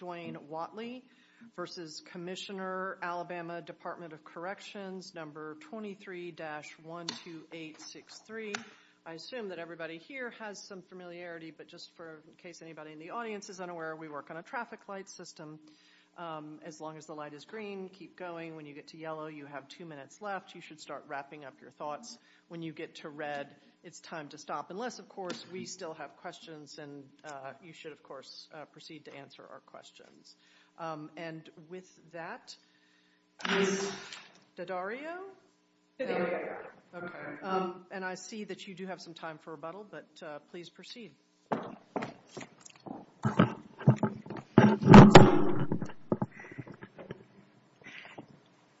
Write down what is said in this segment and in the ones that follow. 23-12863. I assume that everybody here has some familiarity, but just for in case anybody in the audience is unaware, we work on a traffic light system. As long as the light is green, keep going. When you get to yellow, you have two minutes left. You should start wrapping up your thoughts. When you get to red, it's time to stop. Unless, of course, we still have questions and you should, of course, proceed to answer our questions. And with that, Ms. Daddario? Daddario. Okay. And I see that you do have some time for rebuttal, but please proceed.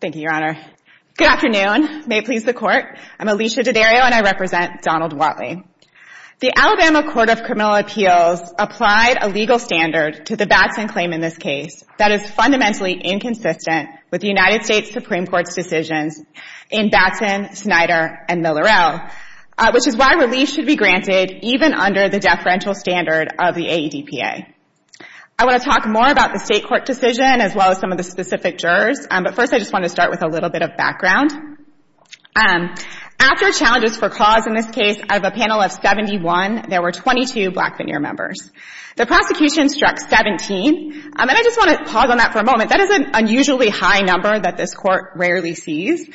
Thank you, Your Honor. Good afternoon. May it please the Court. I'm Alicia Daddario and I represent Donald Whatley. The Alabama Court of Criminal Appeals applied a legal standard to the Batson claim in this case that is fundamentally inconsistent with the United States Supreme Court's decisions in Batson, Snyder, and Miller-El, which is why relief should be granted even under the deferential standard of the AEDPA. I want to talk more about the State Court decision as well as some of the specific jurors, but first I just want to start with a little bit of background. After challenges for cause in this case, out of a panel of 71, there were 22 black veneer members. The prosecution struck 17. And I just want to pause on that for a moment. That is an unusually high number that this Court rarely sees.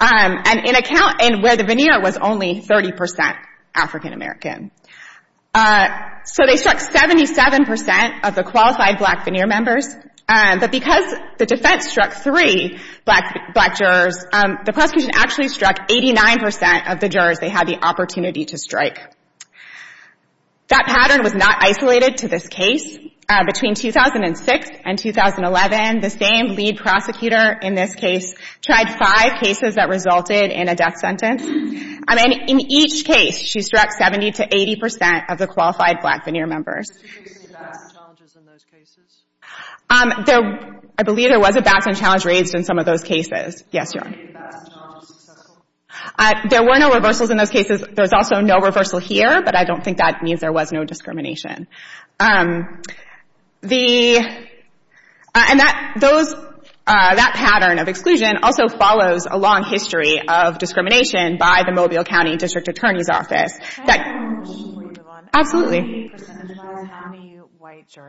And in a count where the veneer was only 30 percent African American. So they struck 77 percent of the qualified black veneer members. But because the defense struck three black jurors, the prosecution actually struck 89 percent of the jurors they had the opportunity to strike. That pattern was not isolated to this case. Between 2006 and 2011, the same lead prosecutor in this case tried five cases that resulted in a death sentence. And in each case, she struck 70 to 80 percent of the qualified black veneer members. I believe there was a backs end challenge raised in some of those cases. Yes, Your Honor. There were no reversals in those cases. There was also no reversal here, but I don't think that means there was no discrimination. And that pattern of exclusion also follows a long history of discrimination by the Mobile County District Attorney's Office. Absolutely. So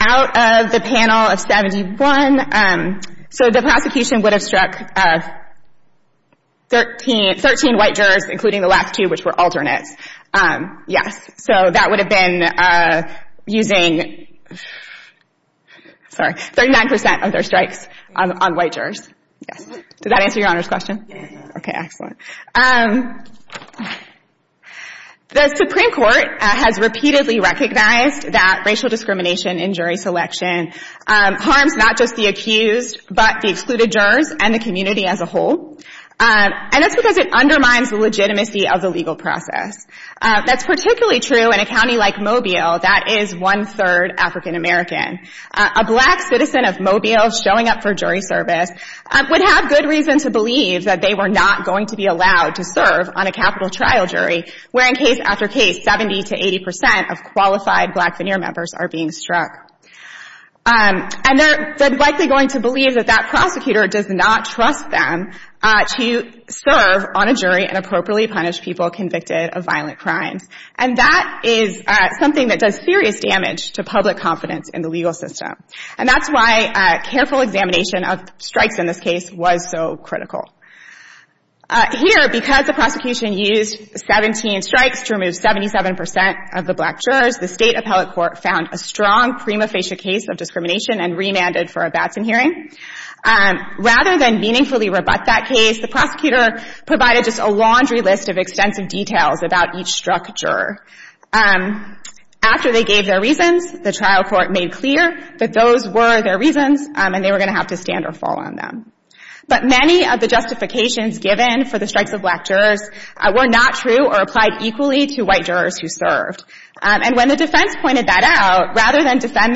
out of the panel of 71, so the prosecution would have struck 13 white jurors, including the last two, which were alternates. Yes. So that would have been using, sorry, 39 percent of their strikes on white jurors. Yes. Did that answer Your Honor's question? Yes, Your Honor. Okay, excellent. The Supreme Court has repeatedly recognized that racial discrimination in jury selection harms not just the accused, but the excluded jurors and the community as a whole. And that's because it undermines the legitimacy of the legal process. That's particularly true in a county like Mobile that is one-third African American. A black citizen of Mobile showing up for jury service would have good reason to believe that they were not going to be allowed to serve on a capital trial jury, where in case after case, 70 to 80 percent of qualified black veneer members are being struck. And they're likely going to believe that that prosecutor does not trust them to serve on jury and appropriately punish people convicted of violent crimes. And that is something that does serious damage to public confidence in the legal system. And that's why careful examination of strikes in this case was so critical. Here, because the prosecution used 17 strikes to remove 77 percent of the black jurors, the State Appellate Court found a strong prima facie case of discrimination and remanded it for a Batson hearing. Rather than meaningfully rebut that case, the prosecutor provided just a laundry list of extensive details about each struck juror. After they gave their reasons, the trial court made clear that those were their reasons and they were going to have to stand or fall on them. But many of the justifications given for the strikes of black jurors were not true or applied equally to white jurors who served. And when the defense pointed that out, rather than some of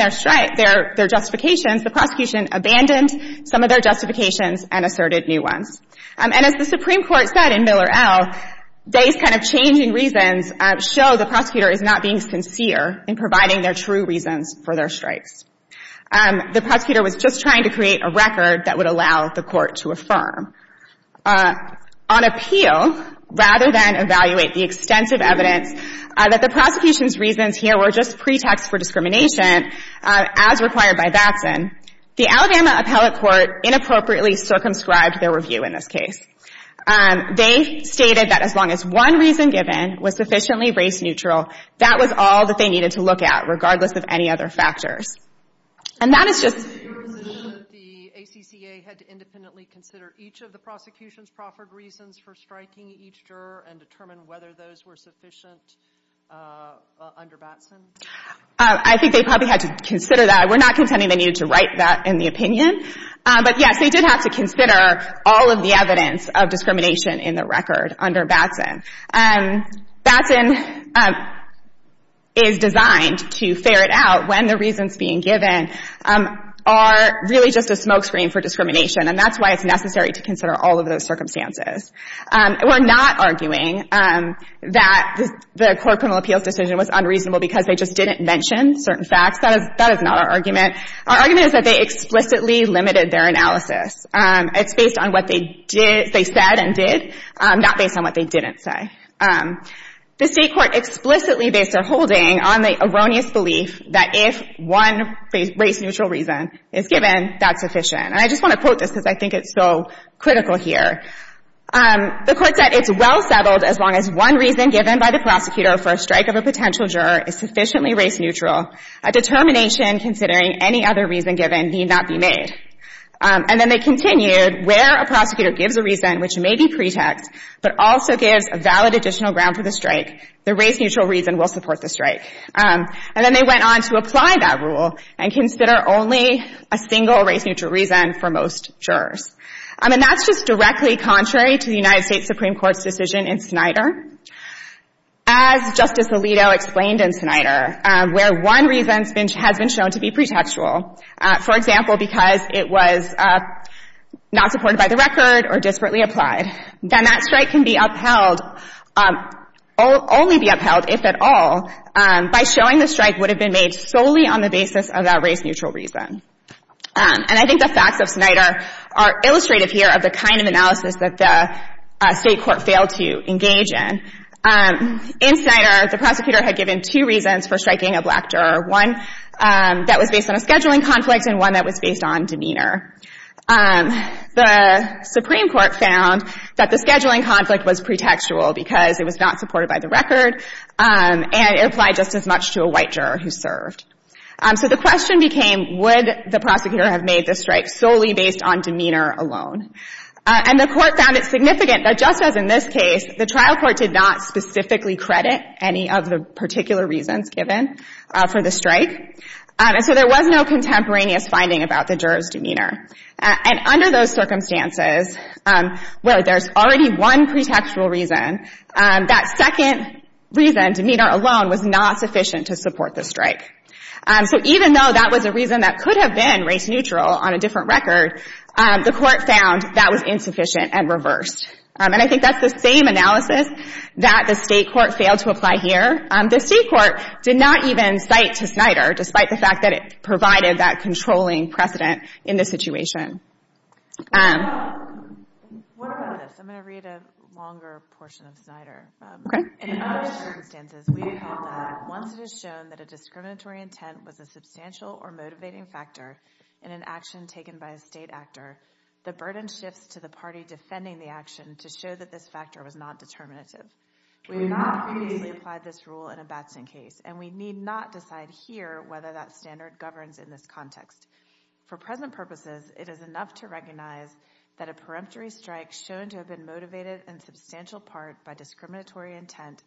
their justifications and asserted new ones. And as the Supreme Court said in Miller, L., these kind of changing reasons show the prosecutor is not being sincere in providing their true reasons for their strikes. The prosecutor was just trying to create a record that would allow the court to affirm. On appeal, rather than evaluate the extensive evidence, that the prosecution's reasons here were just pretexts for discrimination, as required by Batson, the Alabama Appellate Court inappropriately circumscribed their review in this case. They stated that as long as one reason given was sufficiently race neutral, that was all that they needed to look at, regardless of any other factors. And that is just Your position is that the ACCA had to independently consider each of the prosecution's proffered reasons for striking each juror and determine whether those were sufficient under Batson? I think they probably had to consider that. We're not contending they needed to write that in the opinion. But, yes, they did have to consider all of the evidence of discrimination in the record under Batson. Batson is designed to ferret out when the reasons being given are really just a smokescreen for discrimination. And that's why it's necessary to consider all of those circumstances. We're not arguing that the court criminal appeals decision was unreasonable because they just didn't mention certain facts. That is not our argument. Our argument is that they explicitly limited their analysis. It's based on what they did, they said and did, not based on what they didn't say. The state court explicitly based their holding on the erroneous belief that if one race neutral reason is given, that's sufficient. And I just want to quote this because I think it's so critical here. The court said it's well settled as long as one reason given by the prosecutor for a strike of a potential juror is sufficiently race neutral, a determination considering any other reason given need not be made. And then they continued, where a prosecutor gives a reason which may be pretext but also gives a valid additional ground for the strike, the race neutral reason will apply. And then they went on to apply that rule and consider only a single race neutral reason for most jurors. And that's just directly contrary to the United States Supreme Court's decision in Snyder. As Justice Alito explained in Snyder, where one reason has been shown to be pretextual, for example, because it was not supported by the record or desperately applied, then that strike can be upheld, only be upheld if at all, by showing the jury that the strike would have been made solely on the basis of that race neutral reason. And I think the facts of Snyder are illustrative here of the kind of analysis that the State Court failed to engage in. In Snyder, the prosecutor had given two reasons for striking a black juror, one that was based on a scheduling conflict and one that was based on demeanor. The Supreme Court found that the scheduling conflict was pretextual because it was not supported by the record, and it applied just as much to a white juror who served. So the question became, would the prosecutor have made the strike solely based on demeanor alone? And the Court found it significant that just as in this case, the trial court did not specifically credit any of the particular reasons given for the strike. And so there was no contemporaneous finding about the juror's demeanor. And under those circumstances, where there's already one pretextual reason, that second reason, demeanor alone, was not sufficient to support the strike. So even though that was a reason that could have been race neutral on a different record, the Court found that was insufficient and reversed. And I think that's the same analysis that the State Court failed to apply here. The State Court did not even cite to Snyder, despite the fact that it provided that controlling precedent in this situation. What about this? I'm going to read a longer portion of Snyder. In other circumstances, we recall that once it is shown that a discriminatory intent was a substantial or motivating factor in an action taken by a State actor, the burden shifts to the party defending the action to show that this factor was not determinative. We have not previously applied this rule in a Batson case, and we need not decide here whether that standard governs in this context. For present purposes, it is enough to recognize that a peremptory strike shown to have been motivated in substantial part by discriminatory intent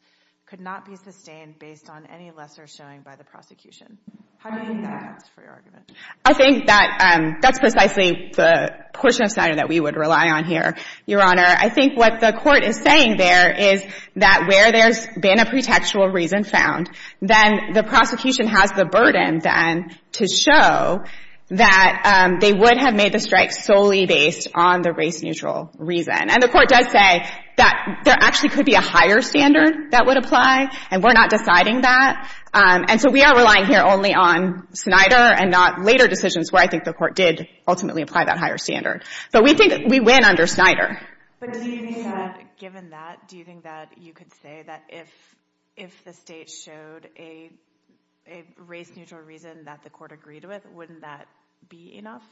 could not be sustained based on any lesser showing by the prosecution. How do you think that stands for your argument? I think that that's precisely the portion of Snyder that we would rely on here, Your Honor. I think what the Court is saying there is that where there's been a pretextual reason found, then the prosecution has the burden, then, to show that they would have made the strike solely based on the race-neutral reason. And the Court does say that there actually could be a higher standard that would apply, and we're not deciding that. And so we are relying here only on Snyder and not later decisions where I think the Court did ultimately apply that higher standard. But we think we win under Snyder. But do you think that, given that, do you think that you could say that if the State showed a race-neutral reason that the Court agreed with, wouldn't that be enough?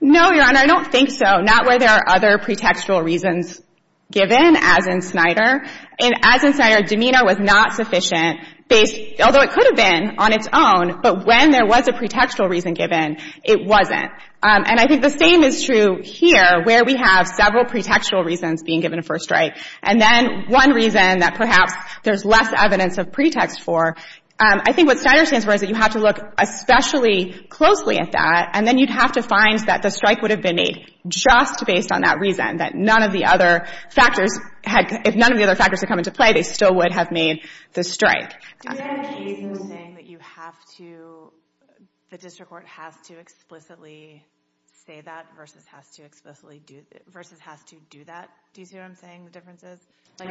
No, Your Honor. I don't think so. Not where there are other pretextual reasons given, as in Snyder. And as in Snyder, demeanor was not sufficient based, although it could have been on its own, but when there was a pretextual reason given, it wasn't. And I think the same is true here where we have several pretextual reasons being given for a strike. And then one reason that perhaps there's less evidence of pretext for, I think what Snyder stands for is that you have to look especially closely at that, and then you'd have to find that the strike would have been made just based on that reason, that none of the other factors had — if none of the other factors had come into play, they still would have made the strike. Do you have a case where you're saying that you have to — the district court has to explicitly say that versus has to explicitly do — versus has to do that? Do you see what I'm saying, the differences? I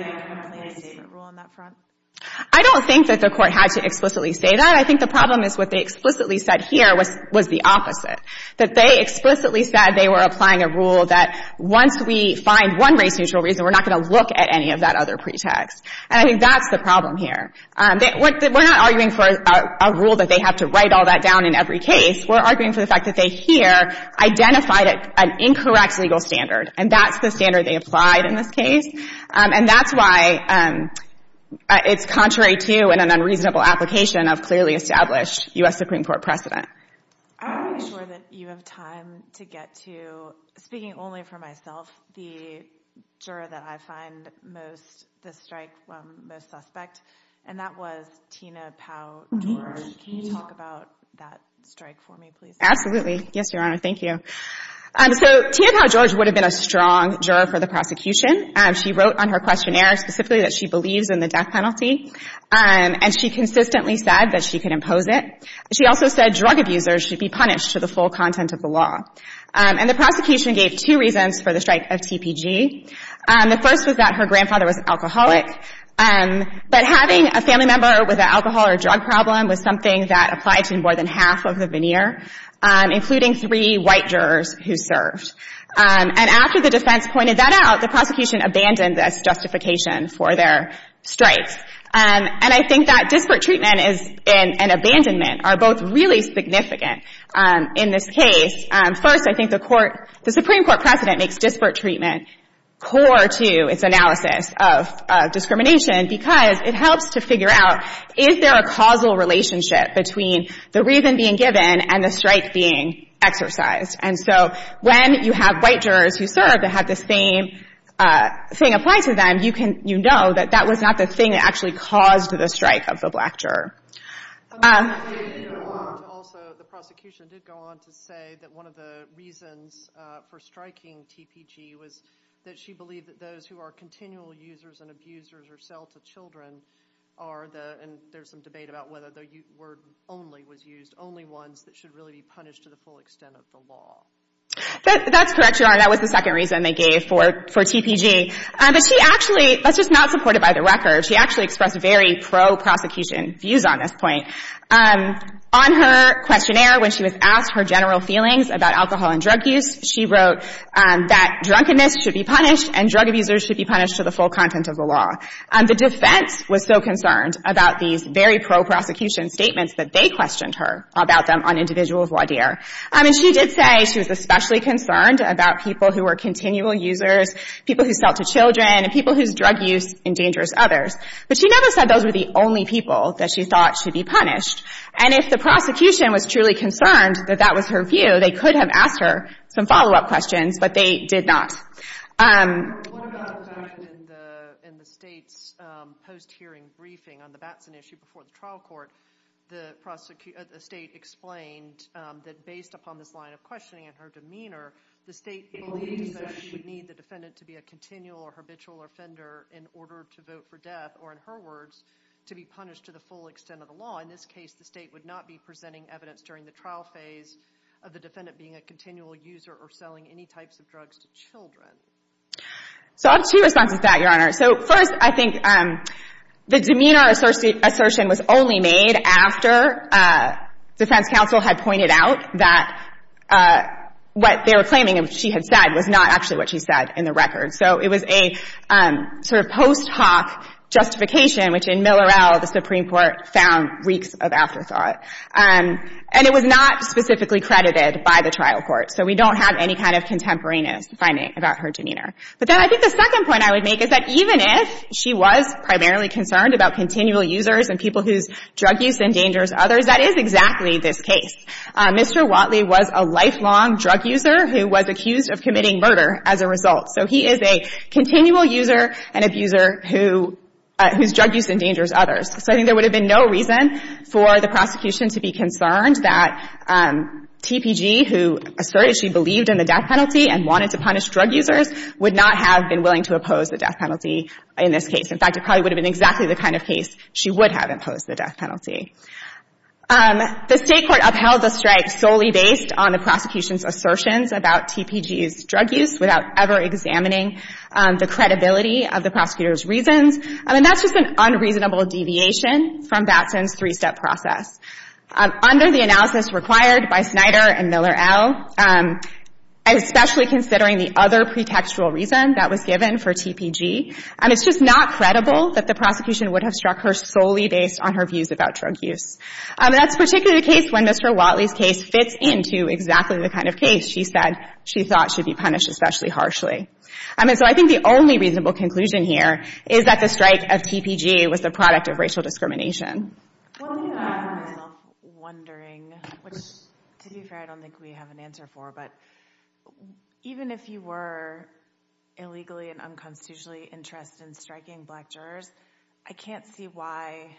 don't think that the Court had to explicitly say that. I think the problem is what they explicitly said here was the opposite, that they explicitly said they were applying a rule that once we find one race-neutral reason, we're not going to look at any of that other pretext. And I think that's the problem here. We're not arguing for a rule that they have to write all that down in every case. We're arguing for the fact that they here identified an incorrect legal standard, and that's the standard they applied in this case. And that's why it's contrary to and an unreasonable application of clearly established U.S. Supreme Court precedent. I want to make sure that you have time to get to, speaking only for myself, the juror that I find most — the strike most suspect, and that was Tina Powell-George. Can you talk about that strike for me, please? Absolutely. Yes, Your Honor. Thank you. So Tina Powell-George would have been a strong juror for the prosecution. She wrote on her questionnaire specifically that she believes in the death penalty, and she consistently said that she could impose it. She also said drug abusers should be punished to the full content of the law. And the prosecution gave two reasons for the strike of TPG. The first was that her grandfather was an applied to in more than half of the veneer, including three white jurors who served. And after the defense pointed that out, the prosecution abandoned this justification for their strikes. And I think that disparate treatment and abandonment are both really significant in this case. First, I think the Supreme Court precedent makes disparate treatment core to its analysis of discrimination because it helps to figure out, is there a causal relationship between the reason being given and the strike being exercised? And so when you have white jurors who serve that have the same thing applied to them, you know that that was not the thing that actually caused the strike of the black juror. I want to say, Your Honor, also the prosecution did go on to say that one of the reasons for striking TPG was that she believed that those who are continual users and abusers or sell to children are the, and there's some debate about whether the word only was used, only ones that should really be punished to the full extent of the law. That's correct, Your Honor. That was the second reason they gave for TPG. But she actually, that's just not supported by the record. She actually expressed very pro-prosecution views on this point. On her questionnaire, when she was asked her general feelings about alcohol and drug use, she wrote that drunkenness should be punished and drug abusers should be punished to the full content of the law. The defense was so concerned about these very pro-prosecution statements that they questioned her about them on individual voir dire. And she did say she was especially concerned about people who were continual users, people who sell to children, and people whose drug use endangers others. But she never said those were the only people that she thought should be punished. And if the prosecution was truly concerned that that was her view, they could have asked her some follow-up questions, but they did not. What about the fact that in the state's post-hearing briefing on the Batson issue before the trial court, the state explained that based upon this line of questioning and her demeanor, the state believes that she would need the defendant to be a continual or habitual offender in order to vote for death, or in her words, to be punished to the full extent of the law. In this case, the state would not be presenting evidence during the trial phase of the defendant being a continual user or selling any types of drugs to children. So I have two responses to that, Your Honor. So first, I think the demeanor assertion was only made after defense counsel had pointed out that what they were claiming she had said was not actually what she said in the record. So it was a sort of post-hoc justification, which in Millerell, the Supreme Court found reeks of afterthought. And it was not specifically credited by the trial court. So we don't have any kind of contemporaneous finding about her demeanor. But then I think the second point I would make is that even if she was primarily concerned about continual users and people whose drug use endangers others, that is exactly this case. Mr. Watley was a lifelong drug user who was accused of committing a crime. And he was a lifelong drug user whose drug use endangers others. So I think there would have been no reason for the prosecution to be concerned that TPG, who asserted she believed in the death penalty and wanted to punish drug users, would not have been willing to oppose the death penalty in this case. In fact, it probably would have been exactly the kind of case she would have imposed the death penalty. The State court upheld the strike solely based on the prosecution's assertions about TPG's drug use without ever examining the credibility of the prosecutor's reasons. And that's just an unreasonable deviation from Batson's three-step process. Under the analysis required by Snyder and Millerell, especially considering the other pretextual reason that was given for TPG, it's just not credible that the prosecution would have struck her solely based on her views about drug use. And that's particularly the case when Mr. Watley's case fits into exactly the kind of case she said she thought should be punished especially harshly. I mean, so I think the only reasonable conclusion here is that the strike of TPG was the product of racial discrimination. Well, you know, I find myself wondering, which to be fair I don't think we have an answer for, but even if you were illegally and unconstitutionally interested in striking black jurors, I can't see why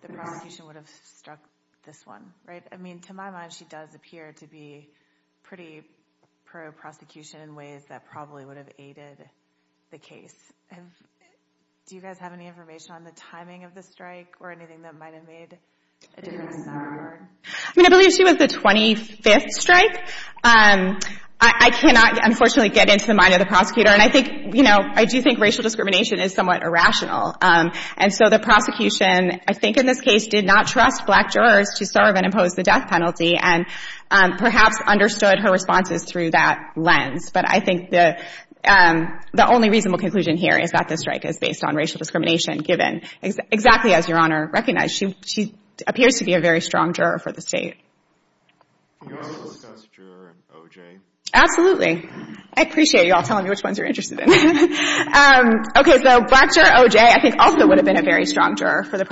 the prosecution would have struck this one. Right? I mean, to my mind, she does appear to be pretty pro-prosecution in ways that probably would have aided the case. Do you guys have any information on the timing of the strike or anything that might have made a difference? I mean, I believe she was the 25th strike. I cannot, unfortunately, get into the mind of the prosecutor. And I think, you know, I do think racial discrimination is somewhat irrational. And so the prosecution, I think in this case, did not trust black jurors to serve and impose the death penalty and perhaps understood her responses through that lens. But I think the only reasonable conclusion here is that the strike is based on racial discrimination given exactly as Your Honor recognized. She appears to be a very strong juror for the State. Can you also discuss juror and OJ? Absolutely. I appreciate you all telling me which ones you're interested in. Okay. So black juror OJ I think also would have been a very strong juror for the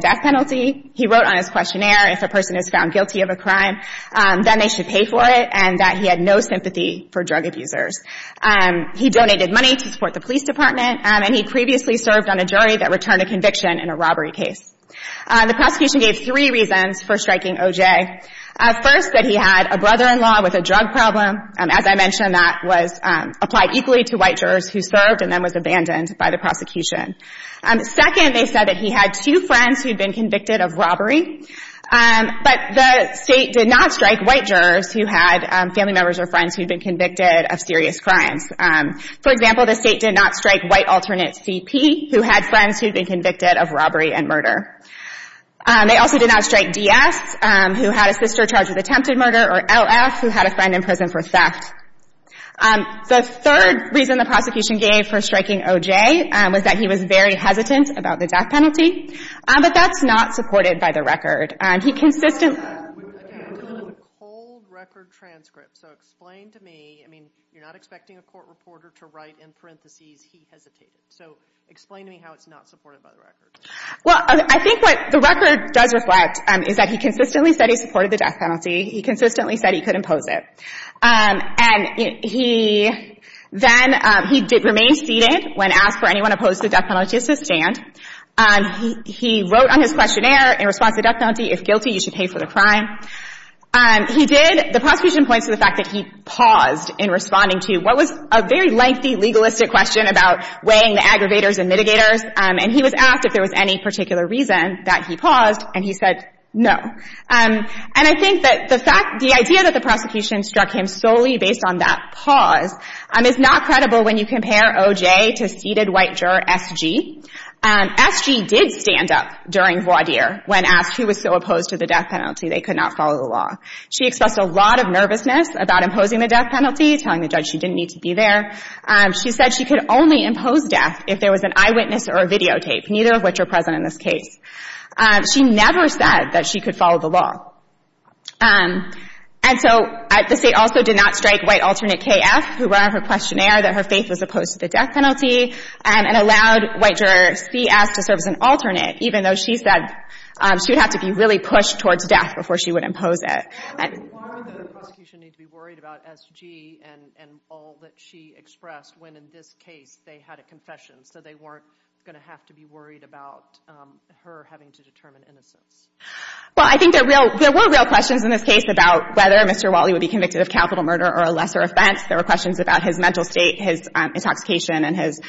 death penalty. He wrote on his questionnaire, if a person is found guilty of a crime, then they should pay for it, and that he had no sympathy for drug abusers. He donated money to support the police department, and he previously served on a jury that returned a conviction in a robbery case. The prosecution gave three reasons for striking OJ. First, that he had a brother-in-law with a drug problem. As I mentioned, that was applied equally to white jurors who served and then was abandoned by the convicted of robbery. But the State did not strike white jurors who had family members or friends who had been convicted of serious crimes. For example, the State did not strike white alternate CP who had friends who had been convicted of robbery and murder. They also did not strike DS who had a sister charged with attempted murder or LF who had a friend in prison for theft. The third reason the prosecution gave for striking OJ was that he was very supportive of the death penalty, but that's not supported by the record. He consistently... We have a cold record transcript, so explain to me, I mean, you're not expecting a court reporter to write in parentheses, he hesitated. So explain to me how it's not supported by the record. Well, I think what the record does reflect is that he consistently said he supported the death penalty. He consistently said he could impose it. And he then, he did remain seated when asked for anyone opposed to the death penalty. And he wrote on his questionnaire in response to death penalty, if guilty, you should pay for the crime. He did, the prosecution points to the fact that he paused in responding to what was a very lengthy legalistic question about weighing the aggravators and mitigators. And he was asked if there was any particular reason that he paused, and he said no. And I think that the fact, the idea that the prosecution struck him solely based on that pause is not credible when you compare OJ to seated white juror SG. SG did stand up during voir dire when asked who was so opposed to the death penalty they could not follow the law. She expressed a lot of nervousness about imposing the death penalty, telling the judge she didn't need to be there. She said she could only impose death if there was an eyewitness or a videotape, neither of which are present in this case. She never said that she could follow the law. And so the State also did not strike white alternate KF, who wrote on her questionnaire that her faith was opposed to the death penalty, and allowed white juror CS to serve as an alternate, even though she said she would have to be really pushed towards death before she would impose it. And why would the prosecution need to be worried about SG and all that she expressed when, in this case, they had a confession, so they weren't going to have to be worried about her having to determine innocence? Well, I think there were real questions in this case about whether Mr. Wally would be convicted of capital murder or a lesser offense. There were questions about his mental state, his intoxication, and his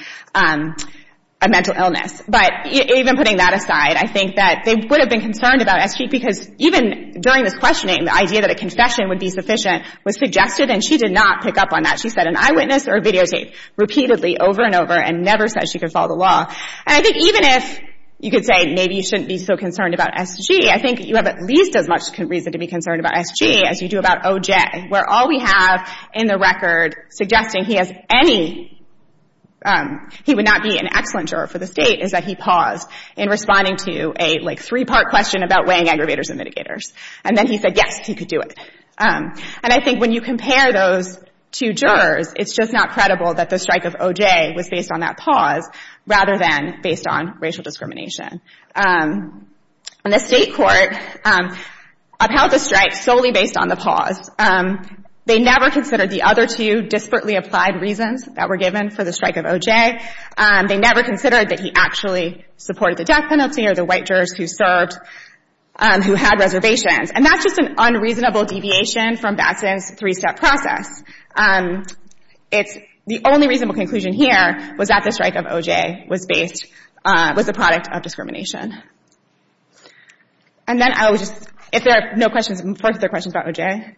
mental illness. But even putting that aside, I think that they would have been concerned about SG because even during this questioning, the idea that a confession would be sufficient was suggested, and she did not pick up on that. She said an eyewitness or videotape repeatedly over and over and never said she could follow the law. And I think even if you could say maybe you shouldn't be so concerned about SG, I think you have at least as much reason to be concerned about SG as you do about OJ, where all we have in the record suggesting he would not be an excellent juror for the state is that he paused in responding to a three-part question about weighing aggravators and mitigators. And then he said, yes, he could do it. And I think when you compare those two jurors, it's just not credible that the strike of OJ was based on that pause rather than based on racial discrimination. And the state court upheld the strike solely based on the pause. They never considered the other two disparately applied reasons that were given for the strike of OJ. They never considered that he actually supported the death penalty or the white jurors who served who had reservations. And that's just an unreasonable deviation from Batson's three-step process. It's the only reasonable conclusion here was that the strike of OJ was based was the product of discrimination. And then I would just, if there are no questions, before I get to the questions about OJ,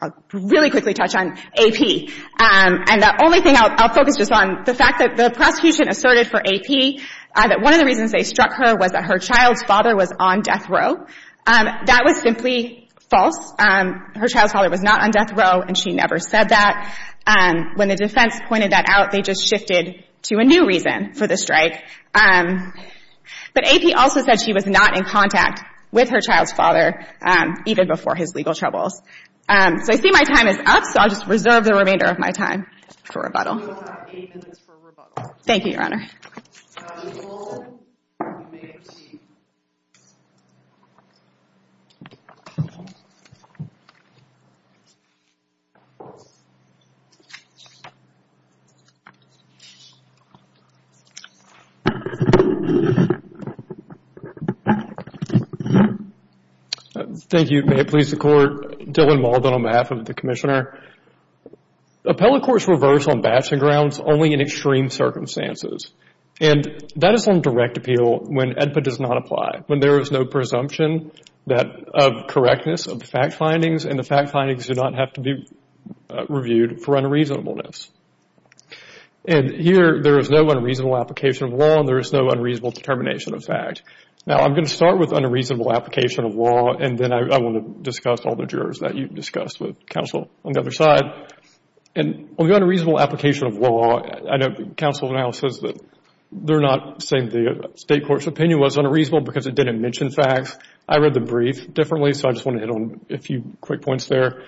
I'll really quickly touch on AP. And the only thing I'll focus just on, the fact that the prosecution asserted for AP that one of the reasons they struck her was that her child's father was on death row. That was simply false. Her child's father was not on death row, and she never said that. When the defense pointed that out, they just shifted to a new reason for the strike. But AP also said she was not in contact with her child's father, even before his legal troubles. So I see my time is up, so I'll just reserve the remainder of my time for rebuttal. We will have eight minutes for rebuttal. Thank you, Your Honor. Thank you, Your Honor. Thank you. May it please the Court. Dylan Mauldin on behalf of the Commissioner. Appellate courts reverse on batching grounds only in extreme circumstances. And that is on direct appeal when ADPA does not apply, when there is no presumption of correctness of the fact findings, and the fact findings do not have to be reviewed for unreasonableness. And here, there is no unreasonable application of law, and there is no unreasonable determination of fact. Now, I'm going to start with unreasonable application of law, and then I want to discuss all the jurors that you've discussed with counsel on the other side. And on the unreasonable application of law, I know counsel now says that they're not saying the State Court's opinion was unreasonable because it didn't mention facts. I read the brief differently, so I just want to hit on a few quick points there.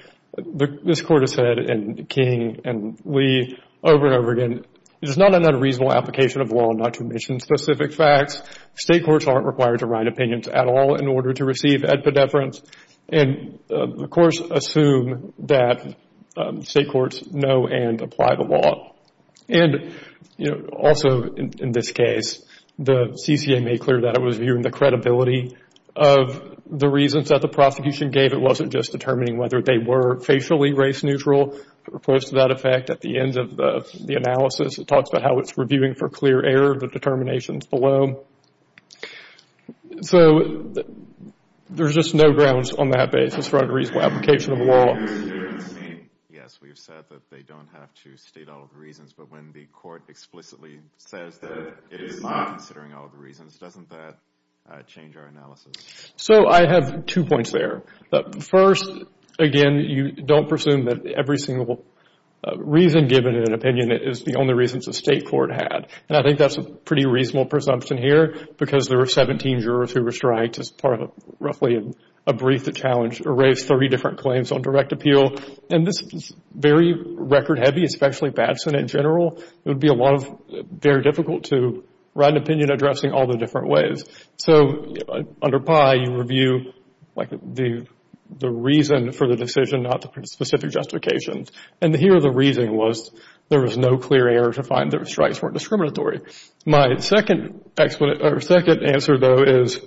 This Court has said, and King and Lee over and over again, it is not an unreasonable application of law not to mention specific facts. State courts aren't required to write opinions at all in order to receive ADPA deference. And the courts assume that State courts know and apply the law. And, you know, also in this case, the CCA made clear that it was viewing the credibility of the reasons that the prosecution gave. It wasn't just determining whether they were facially race neutral, or close to that effect. At the end of the analysis, it talks about how it's reviewing for clear error, the determinations below. So there's just no grounds on that basis for unreasonable application of law. Yes, we've said that they don't have to state all the reasons, but when the court explicitly says that it is not considering all the reasons, doesn't that change our analysis? So I have two points there. First, again, you don't presume that every single reason given in an opinion is the only reasons the State court had. And I think that's a pretty reasonable presumption here, because there were 17 jurors who were striked as part of roughly a brief that challenged or raised 30 different claims on direct appeal. And this is very record-heavy, especially Batson in general. It would be a lot of, very difficult to write an opinion addressing all the different ways. So under PI, you review, like, the reason for the decision, not the specific justification. And here the reason was there was no clear error to find that the strikes weren't discriminatory. My second answer, though, is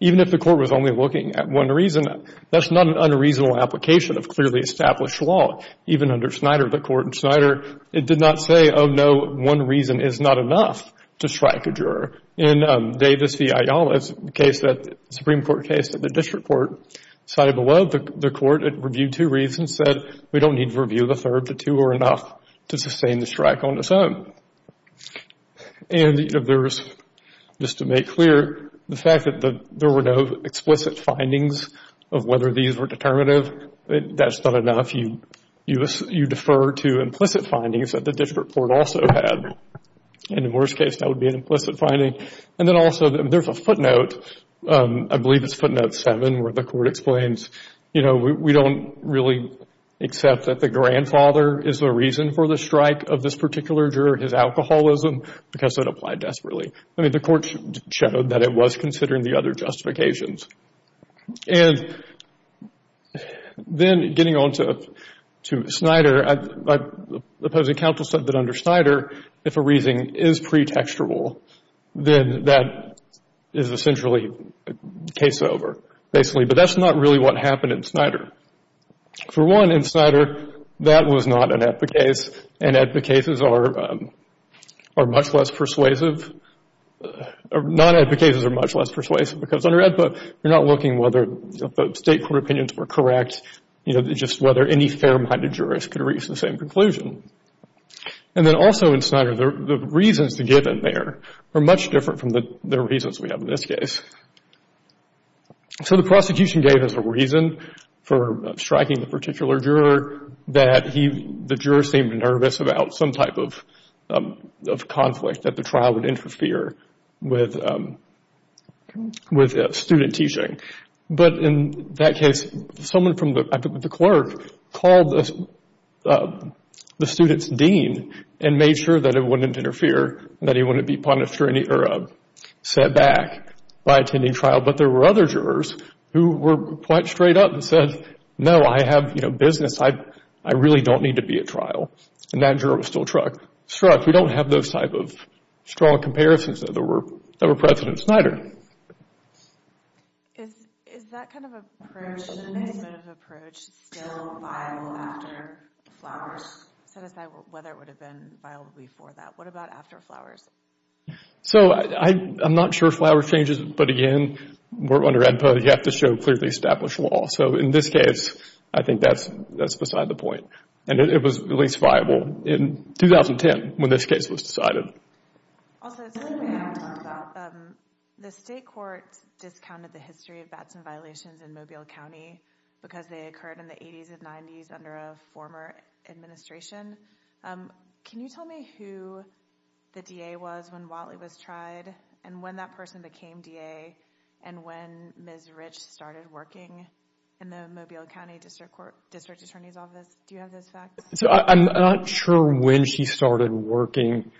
even if the court was only looking at one reason, that's not an unreasonable application of clearly established law. Even under Snyder, the court in Snyder, it did not say, oh, no, one reason is not enough to strike a juror. In Davis v. Ayala's case, that Supreme Court case that the district court cited below, the court had reviewed two reasons, said we don't need to review the third. The two are enough to sustain the strike on its own. And there was, just to make clear, the fact that there were no explicit findings of whether these were determinative, that's not enough. You defer to implicit findings that the district court also had. In the worst case, that would be an implicit finding. And then also there's a footnote, I believe it's footnote seven, where the court explains, you know, we don't really accept that the grandfather is the reason for the strike of this particular juror, his alcoholism, because it applied desperately. I mean, the court showed that it was considering the other justifications. And then getting on to Snyder, the opposing counsel said that under Snyder, if a reasoning is pretextual, then that is essentially case over, basically. But that's not really what happened in Snyder. For one, in Snyder, that was not an AEDPA case, and AEDPA cases are much less persuasive. Non-AEDPA cases are much less persuasive because under AEDPA, you're not looking whether the state court opinions were correct, you know, just whether any fair-minded jurist could reach the same conclusion. And then also in Snyder, the reasons given there are much different from the reasons we have in this case. So the prosecution gave us a reason for striking the particular juror that the juror seemed nervous about some type of conflict that the trial would interfere with student teaching. But in that case, someone from the clerk called the student's dean and made sure that it wouldn't interfere, that he wouldn't be punished or set back by attending trial. But there were other jurors who were quite straight up and said, no, I have business. I really don't need to be at trial. And that juror was still struck. We don't have those type of strong comparisons that were present in Snyder. Is that kind of approach still viable after Flowers? Set aside whether it would have been viable before that. What about after Flowers? So I'm not sure Flowers changes, but again, under AEDPA, you have to show clearly established law. So in this case, I think that's beside the point. And it was at least viable in 2010 when this case was decided. Also, something I want to talk about. The state court discounted the history of violations in Mobile County because they occurred in the 80s and 90s under a former administration. Can you tell me who the DA was when Wattley was tried and when that person became DA and when Ms. Rich started working in the Mobile County District Attorney's Office? Do you have those facts? So I'm not sure when she started working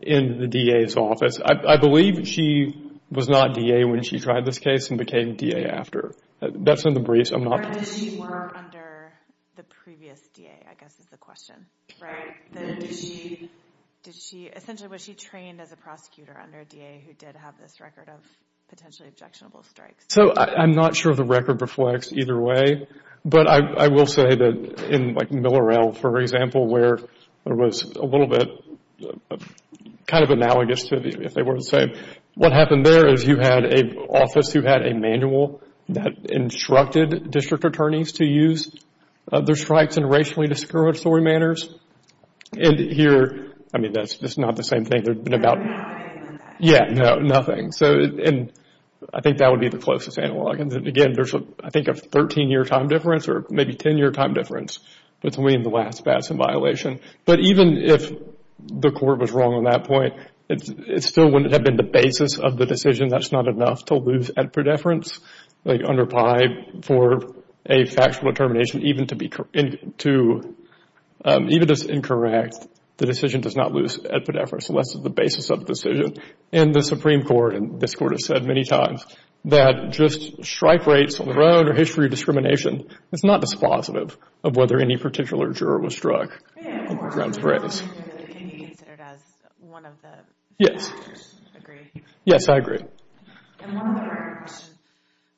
in the DA's office. I believe she was not DA when she tried this case and became DA after. That's in the briefs. Or did she work under the previous DA, I guess is the question, right? Did she—essentially, was she trained as a prosecutor under DA who did have this record of potentially objectionable strikes? So I'm not sure the record reflects either way. But I will say that in like Millerell, for example, where it was a little bit kind of analogous to if they were the same, what happened there is you had an office who had a manual that instructed district attorneys to use their strikes in racially discouraged story manners. And here, I mean, that's just not the same thing. There's been about— No, nothing like that. Yeah, no, nothing. And I think that would be the closest analog. And again, there's, I think, a 13-year time difference or maybe 10-year time difference between the last pass and violation. But even if the court was wrong on that point, it still wouldn't have been the basis of the decision. That's not enough to lose at predeference, like under PI for a factual determination even to be— even if it's incorrect, the decision does not lose at predeference. So that's the basis of the decision. And the Supreme Court, and this Court has said many times, that just strike rates on the road or history of discrimination is not dispositive of whether any particular juror was struck on the grounds of race. Can you consider it as one of the factors? Agree? Yes, I agree. And one other question.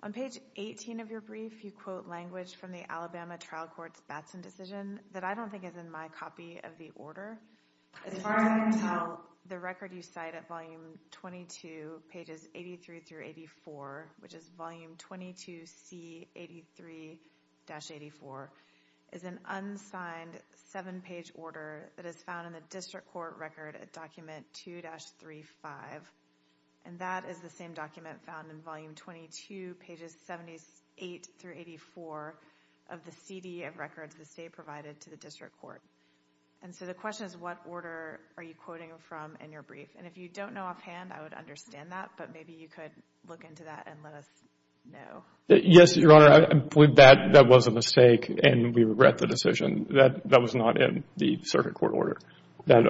On page 18 of your brief, you quote language from the Alabama trial court's Batson decision that I don't think is in my copy of the order. As far as I can tell, the record you cite at volume 22, pages 83 through 84, which is volume 22C83-84, is an unsigned seven-page order that is found in the district court record at document 2-35. And that is the same document found in volume 22, pages 78 through 84, of the CD of records the state provided to the district court. And so the question is, what order are you quoting from in your brief? And if you don't know offhand, I would understand that, but maybe you could look into that and let us know. Yes, Your Honor, I believe that was a mistake and we regret the decision. That was not in the circuit court order that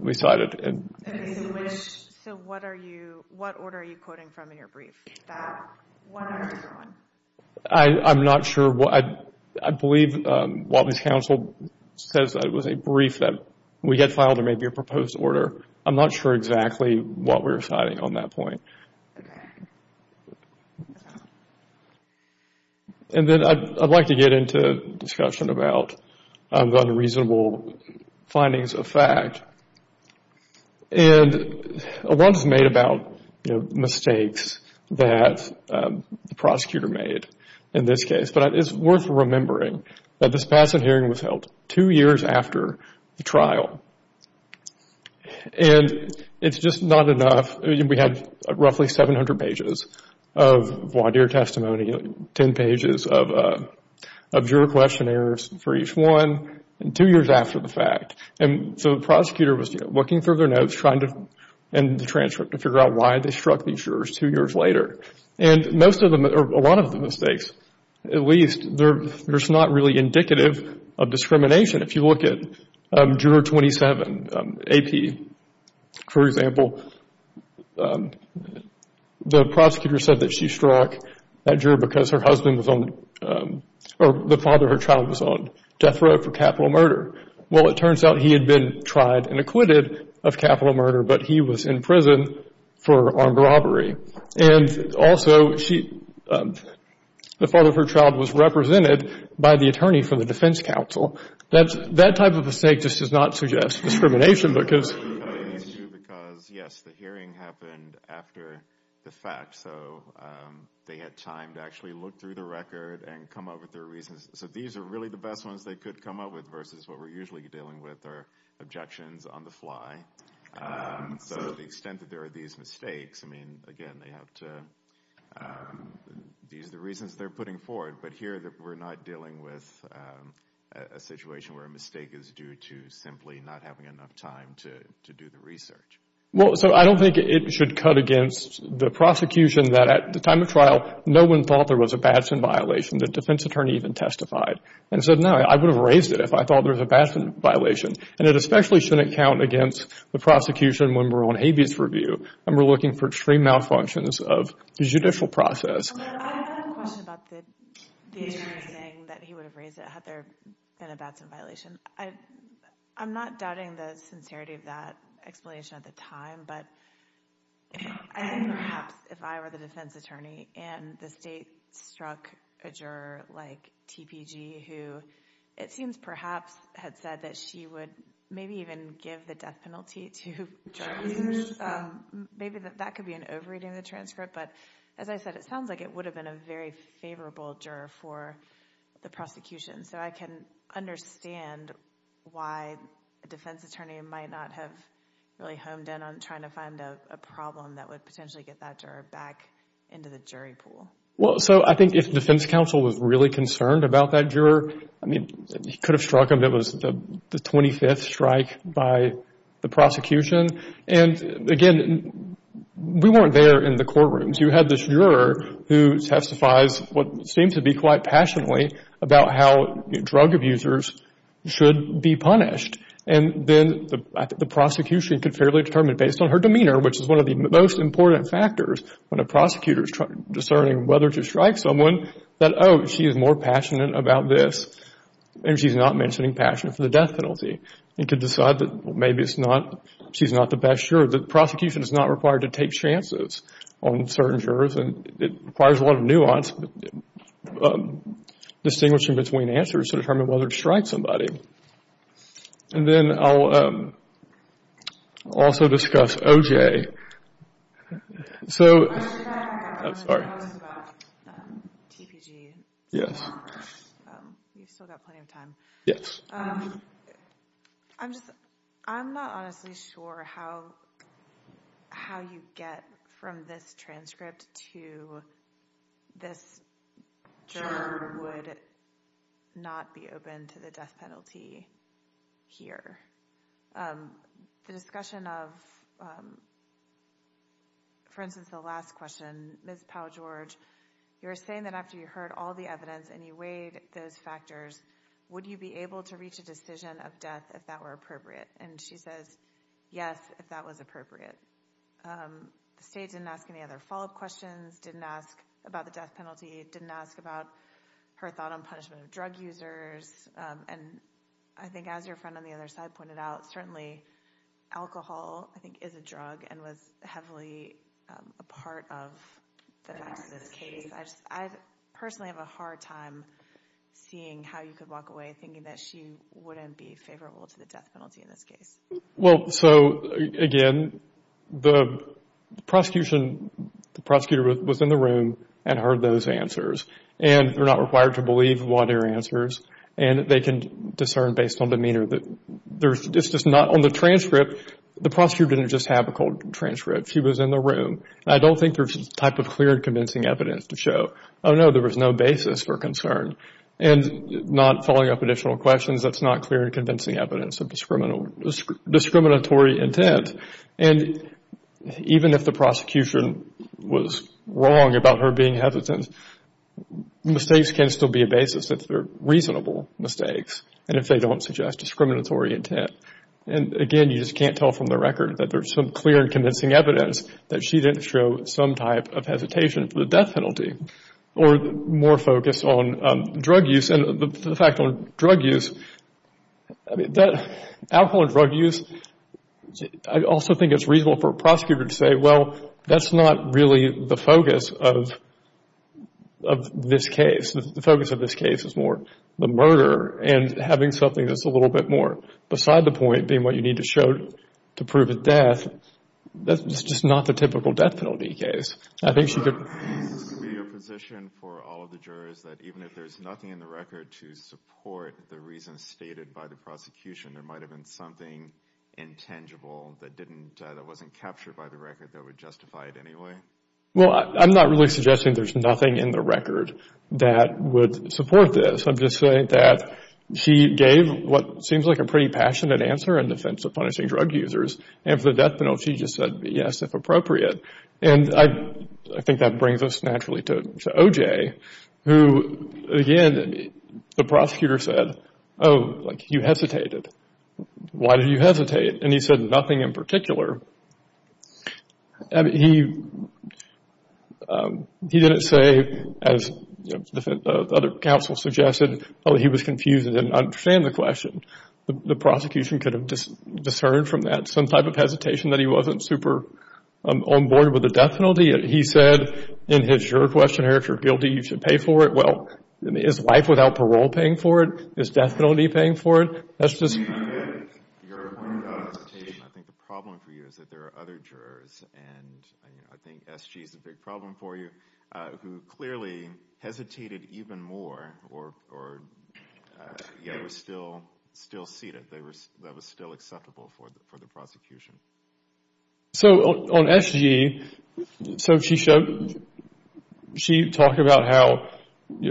we cited. So what order are you quoting from in your brief? What order is it on? I'm not sure. I believe what this counsel says was a brief that we get filed or maybe a proposed order. I'm not sure exactly what we're citing on that point. And then I'd like to get into discussion about the unreasonable findings of fact. And a lot is made about, you know, mistakes that the prosecutor made in this case. But it's worth remembering that this passing hearing was held two years after the trial. And it's just not enough. We had roughly 700 pages of voir dire testimony, 10 pages of juror questionnaires for each one, and two years after the fact. And so the prosecutor was looking through their notes trying to figure out why they struck these jurors two years later. And most of them, or a lot of the mistakes at least, they're just not really indicative of discrimination. If you look at Juror 27 AP, for example, the prosecutor said that she struck that juror because her husband was on, or the father of her child was on death row for capital murder. Well, it turns out he had been tried and acquitted of capital murder, but he was in prison for armed robbery. And also, the father of her child was represented by the attorney from the defense counsel. That type of mistake just does not suggest discrimination because... Because, yes, the hearing happened after the fact. So they had time to actually look through the record and come up with their reasons. So these are really the best ones they could come up with versus what we're usually dealing with are objections on the fly. So to the extent that there are these mistakes, I mean, again, they have to... These are the reasons they're putting forward, but here we're not dealing with a situation where a mistake is due to simply not having enough time to do the research. Well, so I don't think it should cut against the prosecution that at the time of trial, no one thought there was a Batson violation. The defense attorney even testified and said, no, I would have raised it if I thought there was a Batson violation. And it especially shouldn't count against the prosecution when we're on habeas review and we're looking for extreme malfunctions of the judicial process. I have a question about the attorney saying that he would have raised it had there been a Batson violation. I'm not doubting the sincerity of that explanation at the time, but I think perhaps if I were the defense attorney and the state struck a juror like TPG, who it seems perhaps had said that she would maybe even give the death penalty to jurors, maybe that could be an over-reading of the transcript. But as I said, it sounds like it would have been a very favorable juror for the prosecution. So I can understand why a defense attorney might not have really honed in on trying to find a problem that would potentially get that juror back into the jury pool. Well, so I think if the defense counsel was really concerned about that juror, I mean, he could have struck him. It was the 25th strike by the prosecution. And again, we weren't there in the courtrooms. You had this juror who testifies what seems to be quite passionately about how drug abusers should be punished. And then the prosecution could fairly determine based on her demeanor, which is one of the most important factors when a prosecutor is discerning whether to strike someone, that, oh, she is more passionate about this and she's not mentioning passion for the death penalty. They could decide that maybe she's not the best juror. The prosecution is not required to take chances on certain jurors and it requires a lot of nuance, distinguishing between answers to determine whether to strike somebody. And then I'll also discuss OJ. So I'm sorry. I have a question about TPG. Yes. You've still got plenty of time. Yes. I'm not honestly sure how you get from this transcript to this juror would not be open to the death penalty here. The discussion of, for instance, the last question, Ms. Powell-George, you were saying that after you heard all the evidence and you weighed those factors, would you be able to reach a decision of death if that were appropriate? And she says, yes, if that was appropriate. The state didn't ask any other follow-up questions, didn't ask about the death penalty, didn't ask about her thought on punishment of drug users. And I think as your friend on the other side pointed out, certainly alcohol, I think, is a drug and was heavily a part of the case. I personally have a hard time seeing how you could walk away thinking that she wouldn't be favorable to the death penalty in this case. Well, so, again, the prosecutor was in the room and heard those answers and they're not required to believe a lot of your answers and they can discern based on demeanor. It's just not on the transcript. The prosecutor didn't just have a cold transcript. She was in the room. I don't think there's a type of clear and convincing evidence to show, oh, no, there was no basis for concern. And not following up additional questions, that's not clear and convincing evidence of discriminatory intent. And even if the prosecution was wrong about her being hesitant, mistakes can still be a basis if they're reasonable mistakes and if they don't suggest discriminatory intent. And, again, you just can't tell from the record that there's some clear and convincing evidence that she didn't show some type of hesitation for the death penalty or more focus on drug use. And the fact on drug use, alcohol and drug use, I also think it's reasonable for a prosecutor to say, well, that's not really the focus of this case. The focus of this case is more the murder and having something that's a little bit more beside the point being what you need to show to prove his death. That's just not the typical death penalty case. I think she could... Is this going to be a position for all of the jurors that even if there's nothing in the record to support the reasons stated by the prosecution, there might have been something intangible that wasn't captured by the record that would justify it anyway? Well, I'm not really suggesting there's nothing in the record that would support this. I'm just saying that she gave what seems like a pretty passionate answer in defense of punishing drug users. And for the death penalty, she just said, yes, if appropriate. And I think that brings us naturally to O.J. who, again, the prosecutor said, oh, like you hesitated. Why did you hesitate? And he said nothing in particular. He didn't say, as other counsel suggested, oh, he was confused and didn't understand the question. The prosecution could have discerned from that some type of hesitation that he wasn't super on board with the death penalty. He said in his juror questionnaire, if you're guilty, you should pay for it. Well, is life without parole paying for it? Is death penalty paying for it? That's just... You're pointing out a hesitation. I think the problem for you is that there are other jurors, and I think S.G. is a big problem for you, who clearly hesitated even more, yet were still seated. That was still acceptable for the prosecution. So on S.G., so she showed... She talked about how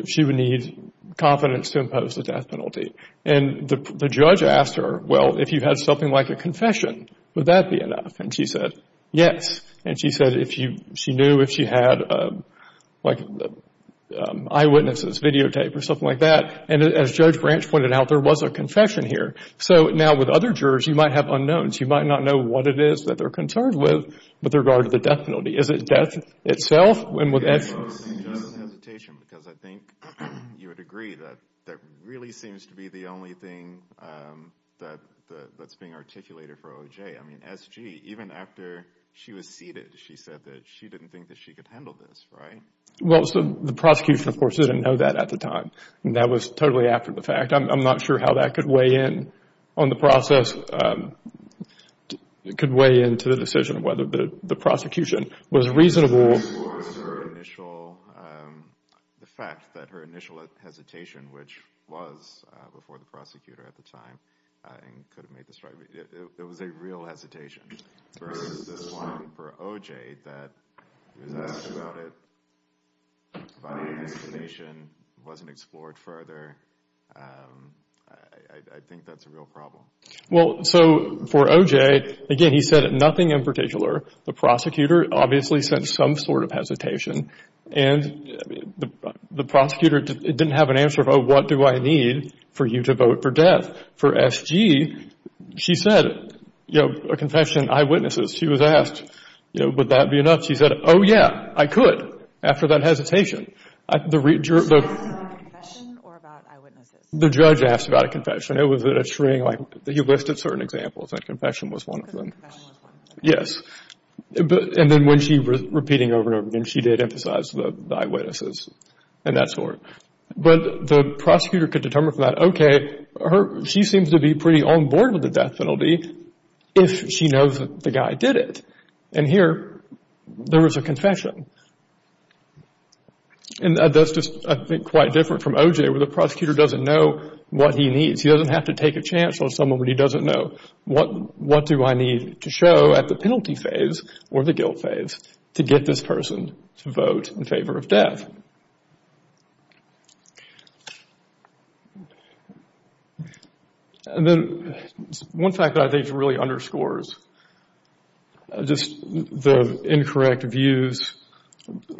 she would need confidence to impose the death penalty. And the judge asked her, well, if you had something like a confession, would that be enough? And she said, yes. And she said she knew if she had, like, eyewitnesses, videotape, or something like that. And as Judge Branch pointed out, there was a confession here. So now with other jurors, you might have unknowns. You might not know what it is that they're concerned with with regard to the death penalty. Is it death itself? It's just a hesitation, because I think you would agree that that really seems to be the only thing that's being articulated for O.J. I mean, S.G., even after she was seated, she said that she didn't think that she could handle this, right? Well, the prosecution, of course, didn't know that at the time. And that was totally after the fact. I'm not sure how that could weigh in on the process. It could weigh into the decision of whether the prosecution was reasonable. The fact that her initial hesitation, which was before the prosecutor at the time, and could have made the strike, it was a real hesitation versus this one for O.J. She was asked about it. Her final hesitation wasn't explored further. I think that's a real problem. Well, so for O.J., again, he said nothing in particular. The prosecutor obviously sent some sort of hesitation, and the prosecutor didn't have an answer of, oh, what do I need for you to vote for death? For S.G., she said, you know, a confession, eyewitnesses. She was asked, you know, would that be enough? She said, oh, yeah, I could, after that hesitation. So it was about a confession or about eyewitnesses? The judge asked about a confession. It was a shrink. He listed certain examples. A confession was one of them. A confession was one of them. Yes. And then when she was repeating over and over again, she did emphasize the eyewitnesses and that sort. But the prosecutor could determine from that, okay, she seems to be pretty on board with the death penalty if she knows that the guy did it. And here, there was a confession. And that's just, I think, quite different from O.J., where the prosecutor doesn't know what he needs. He doesn't have to take a chance on someone when he doesn't know, what do I need to show at the penalty phase or the guilt phase to get this person to vote in favor of death? And then one fact that I think really underscores just the incorrect views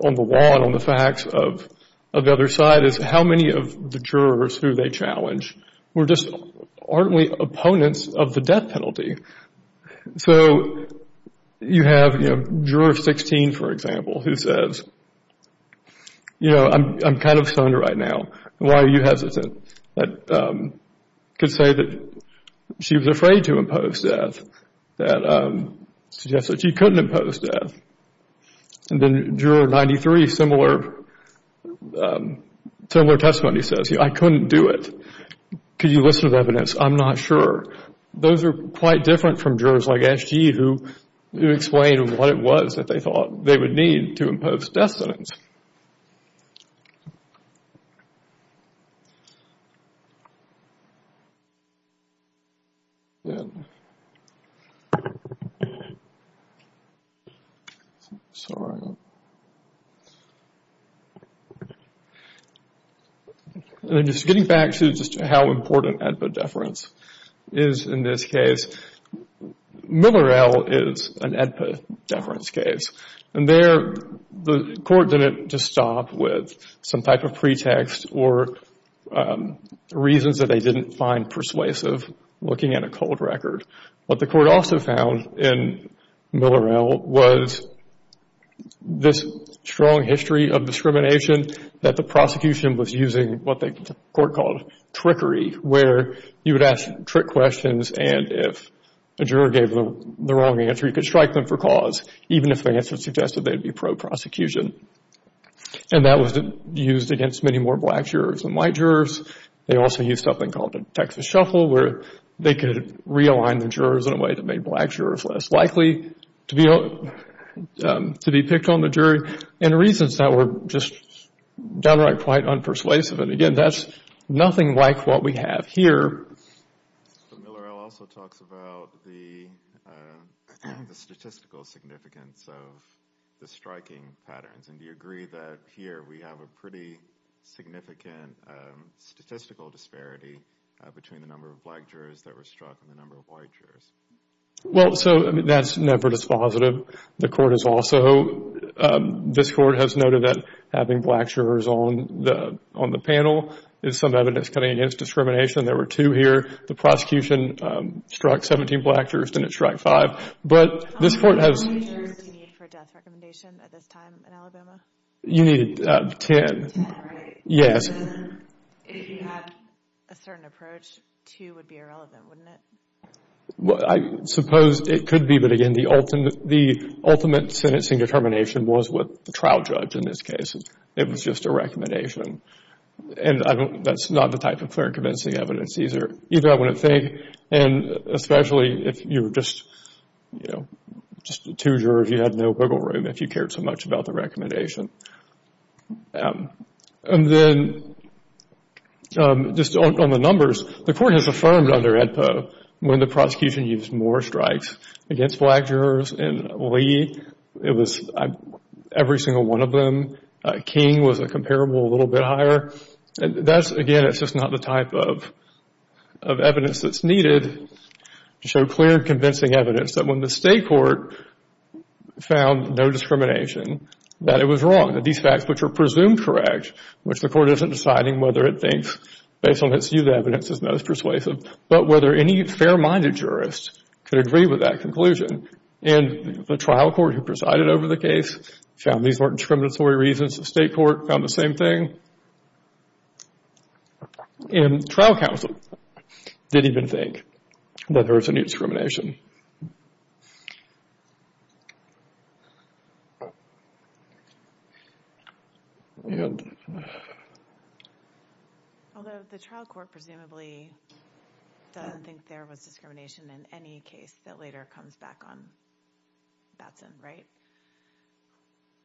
on the law and on the facts of the other side is how many of the jurors who they challenge were just ardently opponents of the death penalty. So you have, you know, Juror 16, for example, who says, you know, I'm kind of stunned right now. Why are you hesitant? That could say that she was afraid to impose death. That suggests that she couldn't impose death. And then Juror 93, similar testimony, says, you know, I couldn't do it. Could you listen to the evidence? I'm not sure. Those are quite different from jurors like S.G. who explained what it was that they thought they would need to impose death sentence. And then just getting back to just how important epidefference is in this case, Millerel is an epidefference case. And there the court didn't just stop with some type of pretext or reasons that they didn't find persuasive looking at a cold record. What the court also found in Millerel was this strong history of discrimination that the prosecution was using what the court called trickery, where you would ask trick questions and if a juror gave the wrong answer, you could strike them for cause, even if the answer suggested they would be pro-prosecution. And that was used against many more black jurors than white jurors. They also used something called a Texas shuffle where they could realign the jurors in a way that made black jurors less likely to be picked on the jury and reasons that were just downright quite unpersuasive. And again, that's nothing like what we have here. But Millerel also talks about the statistical significance of the striking patterns. And do you agree that here we have a pretty significant statistical disparity between the number of black jurors that were struck and the number of white jurors? Well, so that's never dispositive. This court has noted that having black jurors on the panel is some evidence coming against discrimination. There were two here. The prosecution struck 17 black jurors, didn't strike five. How many black jurors do you need for a death recommendation at this time in Alabama? You need 10. 10, right? Yes. If you had a certain approach, two would be irrelevant, wouldn't it? I suppose it could be, but again, the ultimate sentencing determination was with the trial judge in this case. It was just a recommendation. And that's not the type of clear and convincing evidence either. Either I wouldn't think, and especially if you were just, you know, just two jurors, you had no wiggle room if you cared so much about the recommendation. And then just on the numbers, the court has affirmed under AEDPA when the prosecution used more strikes against black jurors in Lee. It was every single one of them. King was a comparable little bit higher. That's, again, it's just not the type of evidence that's needed to show clear convincing evidence that when the state court found no discrimination, that it was wrong, that these facts which are presumed correct, which the court isn't deciding whether it thinks based on its used evidence is most persuasive, but whether any fair-minded jurist could agree with that conclusion. And the trial court who presided over the case found these weren't discriminatory reasons. The state court found the same thing. And trial counsel didn't even think that there was any discrimination. And... Although the trial court presumably doesn't think there was discrimination in any case that later comes back on Batson, right?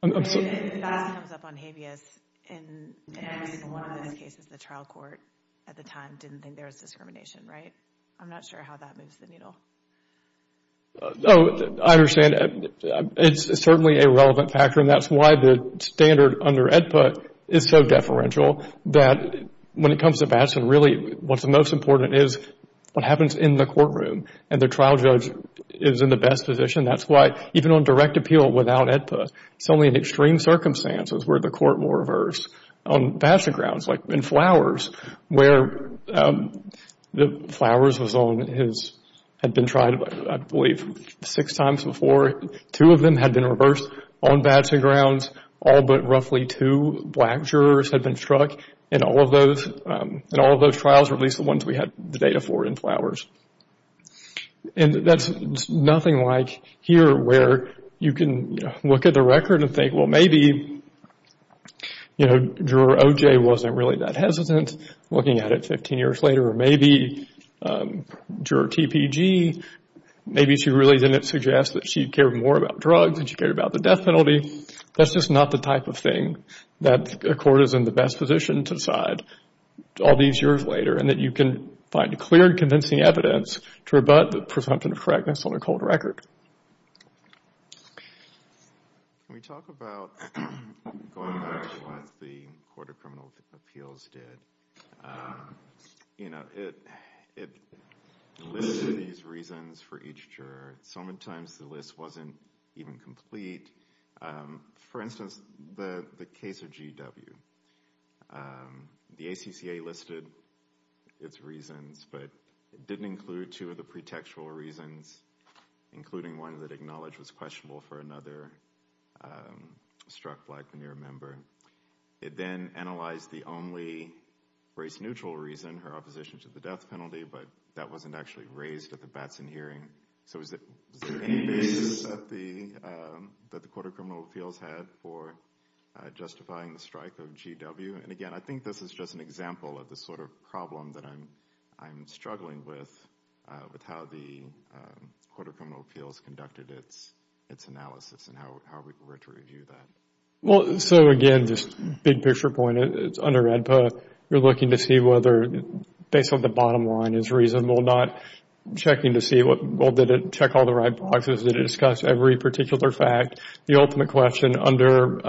If Batson comes up on Habeas, in one of those cases the trial court at the time didn't think there was discrimination, right? I'm not sure how that moves the needle. Oh, I understand. It's certainly a relevant factor and that's why the standard under AEDPA is so deferential that when it comes to Batson, really what's most important is what happens in the courtroom and the trial judge is in the best position. That's why even on direct appeal without AEDPA, it's only in extreme circumstances where the court will reverse. On Batson grounds, like in Flowers, where Flowers had been tried, I believe, six times before, two of them had been reversed on Batson grounds. All but roughly two black jurors had been struck in all of those trials or at least the ones we had the data for in Flowers. And that's nothing like here where you can look at the record and think, well, maybe, you know, juror OJ wasn't really that hesitant looking at it 15 years later or maybe juror TPG, maybe she really didn't suggest that she cared more about drugs and she cared about the death penalty. That's just not the type of thing that a court is in the best position to decide all these years later and that you can find clear and convincing evidence to rebut the presumption of correctness on a cold record. Can we talk about going back to what the Court of Criminal Appeals did? You know, it listed these reasons for each juror. So many times the list wasn't even complete. For instance, the case of GW, the ACCA listed its reasons, but it didn't include two of the pretextual reasons, including one that acknowledged was questionable for another struck black veneer member. It then analyzed the only race-neutral reason, her opposition to the death penalty, but that wasn't actually raised at the Batson hearing. So was there any basis that the Court of Criminal Appeals had for justifying the strike of GW? And, again, I think this is just an example of the sort of problem that I'm struggling with, with how the Court of Criminal Appeals conducted its analysis and how we're to review that. Well, so, again, just big picture point, under AEDPA, you're looking to see whether, based on the bottom line, is reasonable or not. Checking to see, well, did it check all the right boxes? Did it discuss every particular fact? The ultimate question under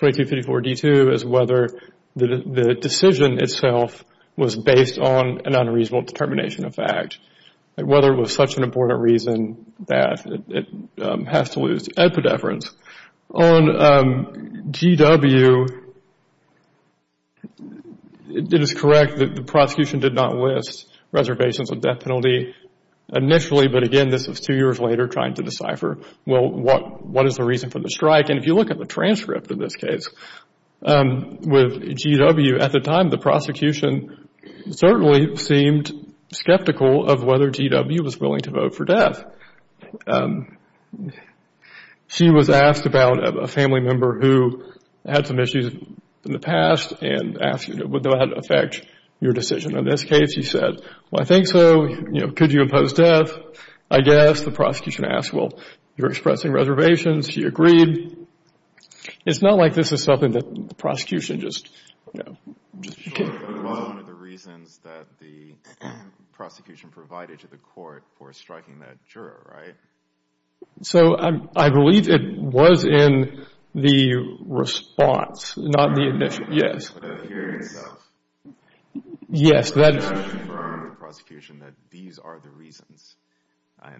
2254-D2 is whether the decision itself was based on an unreasonable determination of fact, whether it was such an important reason that it has to lose AEDPA deference. On GW, it is correct that the prosecution did not list reservations of death penalty initially, but, again, this was two years later, trying to decipher, well, what is the reason for the strike? And if you look at the transcript of this case, with GW, at the time, the prosecution certainly seemed skeptical of whether GW was willing to vote for death. She was asked about a family member who had some issues in the past and asked, would that affect your decision on this case? He said, well, I think so. Could you impose death? I guess. The prosecution asked, well, you're expressing reservations. He agreed. It's not like this is something that the prosecution just, you know. Sure, but it was one of the reasons that the prosecution provided to the court for striking that juror, right? So I believe it was in the response, not the admission. Yes. But the hearing itself. Yes. That does confirm to the prosecution that these are the reasons.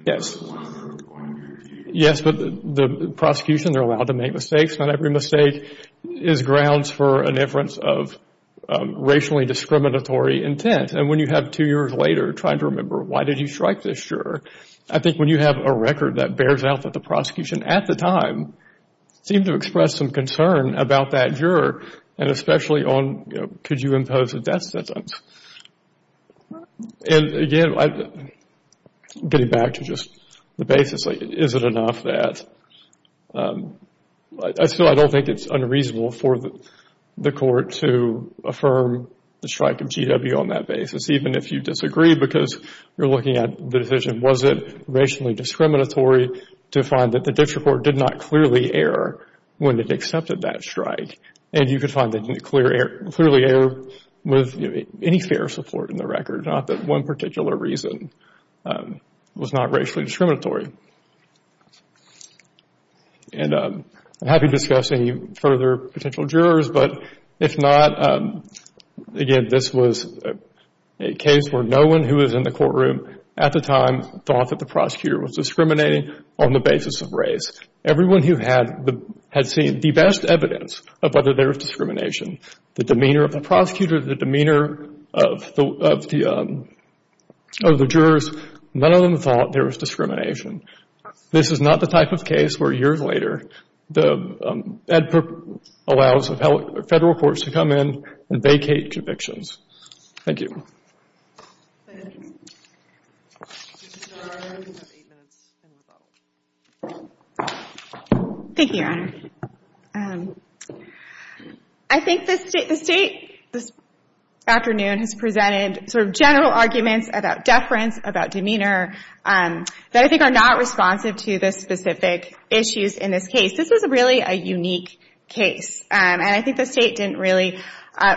Yes. Yes, but the prosecution, they're allowed to make mistakes. Not every mistake is grounds for an inference of racially discriminatory intent. And when you have two years later trying to remember why did you strike this juror, I think when you have a record that bears out that the prosecution at the time seemed to express some concern about that juror, and especially on could you impose a death sentence. And again, getting back to just the basis, is it enough that I still don't think it's unreasonable for the court to affirm the strike of GW on that basis, even if you disagree because you're looking at the decision. Was it racially discriminatory to find that the district court did not clearly err when it accepted that strike? And you could find that they clearly err with any fair support in the record, not that one particular reason was not racially discriminatory. And I'm happy to discuss any further potential jurors, but if not, again, this was a case where no one who was in the courtroom at the time thought that the prosecutor was discriminating on the basis of race. Everyone who had seen the best evidence of whether there was discrimination, the demeanor of the prosecutor, the demeanor of the jurors, none of them thought there was discrimination. This is not the type of case where years later the EdPIRP allows federal courts to come in and vacate convictions. Thank you. Thank you, Your Honor. I think the state this afternoon has presented sort of general arguments about deference, about demeanor, that I think are not responsive to the specific issues in this case. This was really a unique case, and I think the state didn't really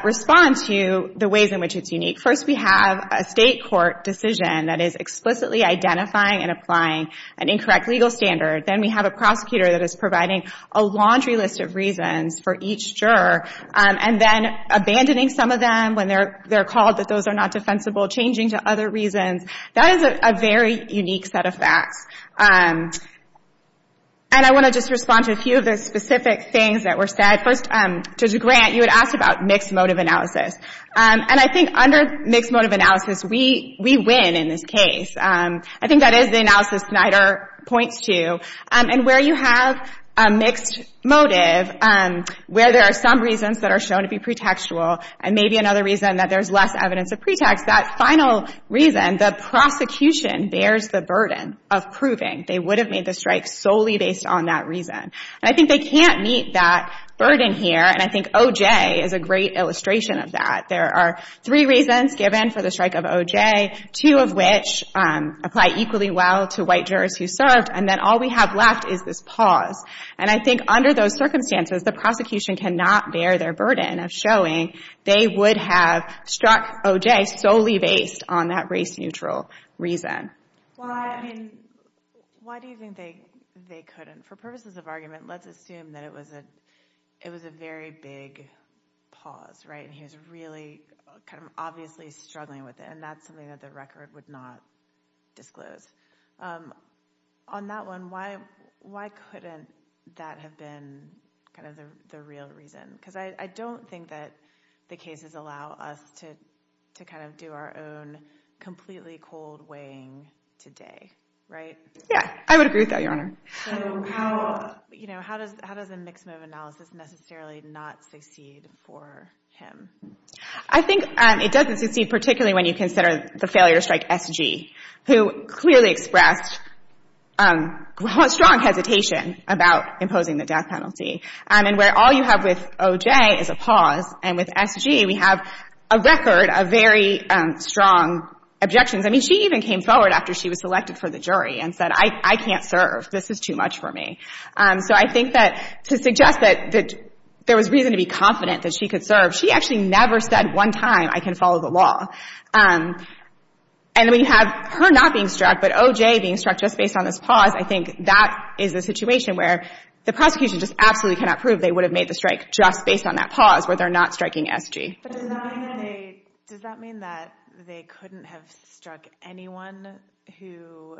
respond to the ways in which it's unique. First, we have a state court decision that is explicitly identifying and applying an incorrect legal standard. Then we have a prosecutor that is providing a laundry list of reasons for each juror and then abandoning some of them when they're called that those are not defensible, changing to other reasons. That is a very unique set of facts. And I want to just respond to a few of the specific things that were said. First, Judge Grant, you had asked about mixed motive analysis, and I think under mixed motive analysis, we win in this case. I think that is the analysis Snyder points to. And where you have a mixed motive, where there are some reasons that are shown to be pretextual and maybe another reason that there's less evidence of pretext, that final reason, the prosecution, bears the burden of proving they would have made the strike solely based on that reason. And I think they can't meet that burden here, and I think OJ is a great illustration of that. There are three reasons given for the strike of OJ, two of which apply equally well to white jurors who served, and then all we have left is this pause. And I think under those circumstances, the prosecution cannot bear their burden of showing they would have struck OJ solely based on that race-neutral reason. Why do you think they couldn't? For purposes of argument, let's assume that it was a very big pause, right, and he was really kind of obviously struggling with it, and that's something that the record would not disclose. On that one, why couldn't that have been kind of the real reason? Because I don't think that the cases allow us to kind of do our own completely cold weighing today, right? Yeah, I would agree with that, Your Honor. So how does a mixed-motive analysis necessarily not succeed for him? I think it doesn't succeed particularly when you consider the failure to strike SG, who clearly expressed strong hesitation about imposing the death penalty. And where all you have with OJ is a pause, and with SG we have a record of very strong objections. I mean, she even came forward after she was selected for the jury and said, I can't serve, this is too much for me. So I think that to suggest that there was reason to be confident that she could serve, she actually never said one time, I can follow the law. And then we have her not being struck, but OJ being struck just based on this pause, I think that is a situation where the prosecution just absolutely cannot prove they would have made the strike just based on that pause where they're not striking SG. But does that mean that they couldn't have struck anyone who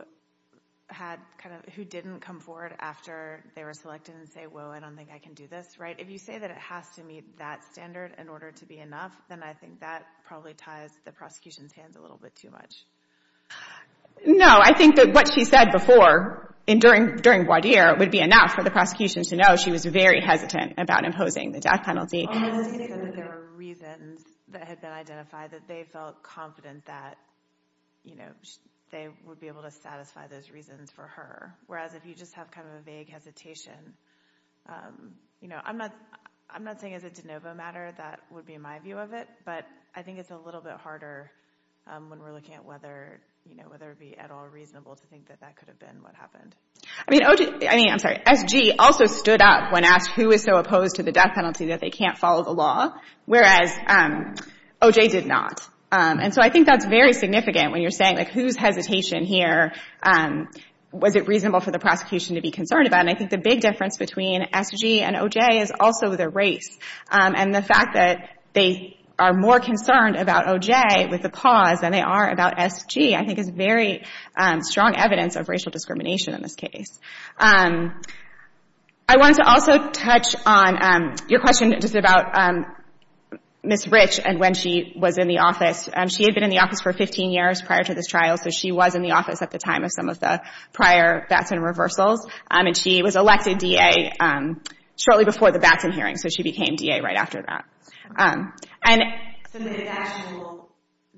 didn't come forward after they were selected and say, whoa, I don't think I can do this, right? If you say that it has to meet that standard in order to be enough, then I think that probably ties the prosecution's hands a little bit too much. No. I think that what she said before and during voir dire would be enough for the prosecution to know she was very hesitant about imposing the death penalty. There were reasons that had been identified that they felt confident that, you know, they would be able to satisfy those reasons for her. Whereas if you just have kind of a vague hesitation, you know, I'm not saying it's a de novo matter. That would be my view of it. But I think it's a little bit harder when we're looking at whether, you know, whether it would be at all reasonable to think that that could have been what happened. I mean, I'm sorry, SG also stood up when asked who is so opposed to the death penalty that they can't follow the law, whereas OJ did not. And so I think that's very significant when you're saying, like, who's hesitation here, was it reasonable for the prosecution to be concerned about? And I think the big difference between SG and OJ is also the race. And the fact that they are more concerned about OJ with a pause than they are about SG, I think is very strong evidence of racial discrimination in this case. I wanted to also touch on your question just about Ms. Rich and when she was in the office. She had been in the office for 15 years prior to this trial, so she was in the office at the time of some of the prior Batson reversals. And she was elected DA shortly before the Batson hearing, so she became DA right after that. So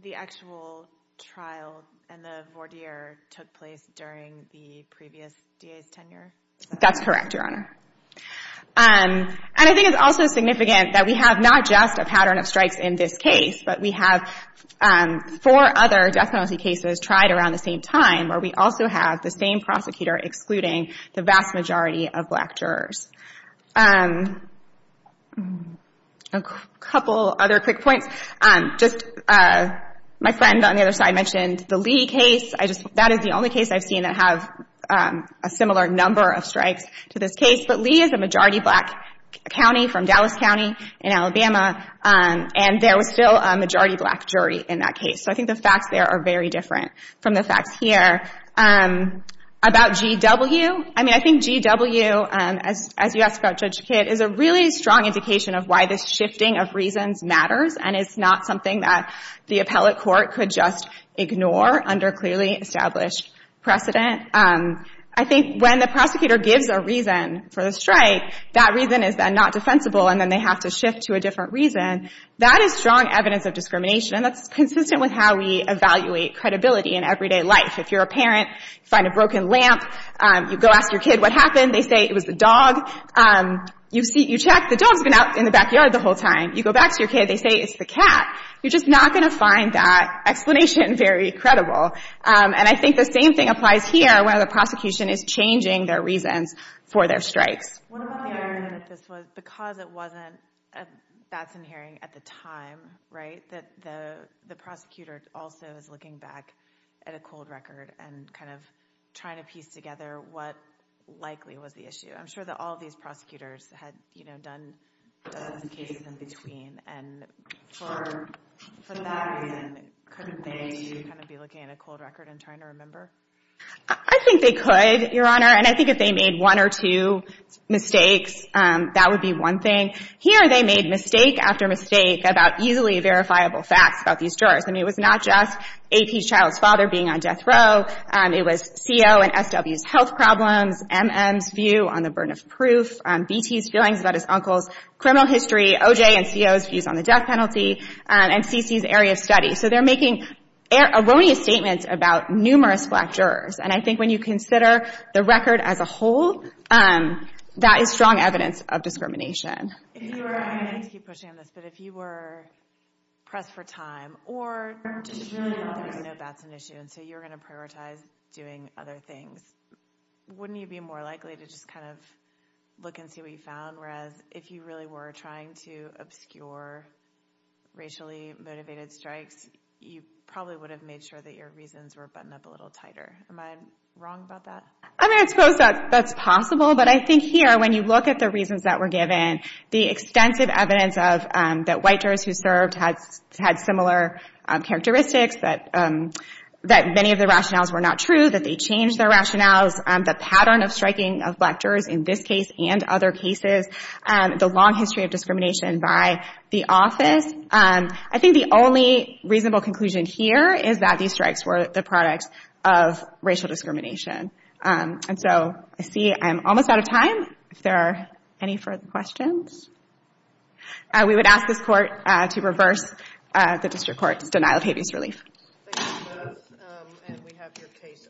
the actual trial and the voir dire took place during the previous DA's tenure? That's correct, Your Honor. And I think it's also significant that we have not just a pattern of strikes in this case, but we have four other death penalty cases tried around the same time, where we also have the same prosecutor excluding the vast majority of black jurors. A couple other quick points. Just my friend on the other side mentioned the Lee case. That is the only case I've seen that have a similar number of strikes to this case. But Lee is a majority black county from Dallas County in Alabama, and there was still a majority black jury in that case. So I think the facts there are very different from the facts here. About GW, I mean, I think GW, as you asked about Judge Kidd, is a really strong indication of why this shifting of reasons matters, and it's not something that the appellate court could just ignore under clearly established precedent. I think when the prosecutor gives a reason for the strike, that reason is then not defensible, and then they have to shift to a different reason. That is strong evidence of discrimination, and that's consistent with how we evaluate credibility in everyday life. If you're a parent, you find a broken lamp, you go ask your kid what happened. They say it was the dog. You check. The dog's been out in the backyard the whole time. You go back to your kid. They say it's the cat. You're just not going to find that explanation very credible. And I think the same thing applies here, where the prosecution is changing their reasons for their strikes. What about the argument that this was because it wasn't a Batson hearing at the time, right, that the prosecutor also is looking back at a cold record and kind of trying to piece together what likely was the issue? I'm sure that all of these prosecutors had, you know, done cases in between, and for that reason, couldn't they kind of be looking at a cold record and trying to remember? I think they could, Your Honor, and I think if they made one or two mistakes, that would be one thing. Here they made mistake after mistake about easily verifiable facts about these jurors. I mean, it was not just AP's child's father being on death row. It was CO and SW's health problems, MM's view on the burden of proof, BT's feelings about his uncle's criminal history, OJ and CO's views on the death penalty, and CC's area of study. So they're making erroneous statements about numerous black jurors, and I think when you consider the record as a whole, that is strong evidence of discrimination. If you were, and I'm going to keep pushing on this, but if you were pressed for time or just really wanted to know if Batson was an issue and so you were going to prioritize doing other things, wouldn't you be more likely to just kind of look and see what you found, whereas if you really were trying to obscure racially motivated strikes, you probably would have made sure that your reasons were buttoned up a little tighter. Am I wrong about that? I mean, I suppose that's possible, but I think here when you look at the reasons that were given, the extensive evidence that white jurors who served had similar characteristics, that many of the rationales were not true, that they changed their rationales, the pattern of striking of black jurors in this case and other cases, the long history of discrimination by the office. I think the only reasonable conclusion here is that these strikes were the product of racial discrimination. And so I see I'm almost out of time. If there are any further questions, we would ask this Court to reverse the District Court's denial of habeas relief. Thank you both, and we have your case under advisement.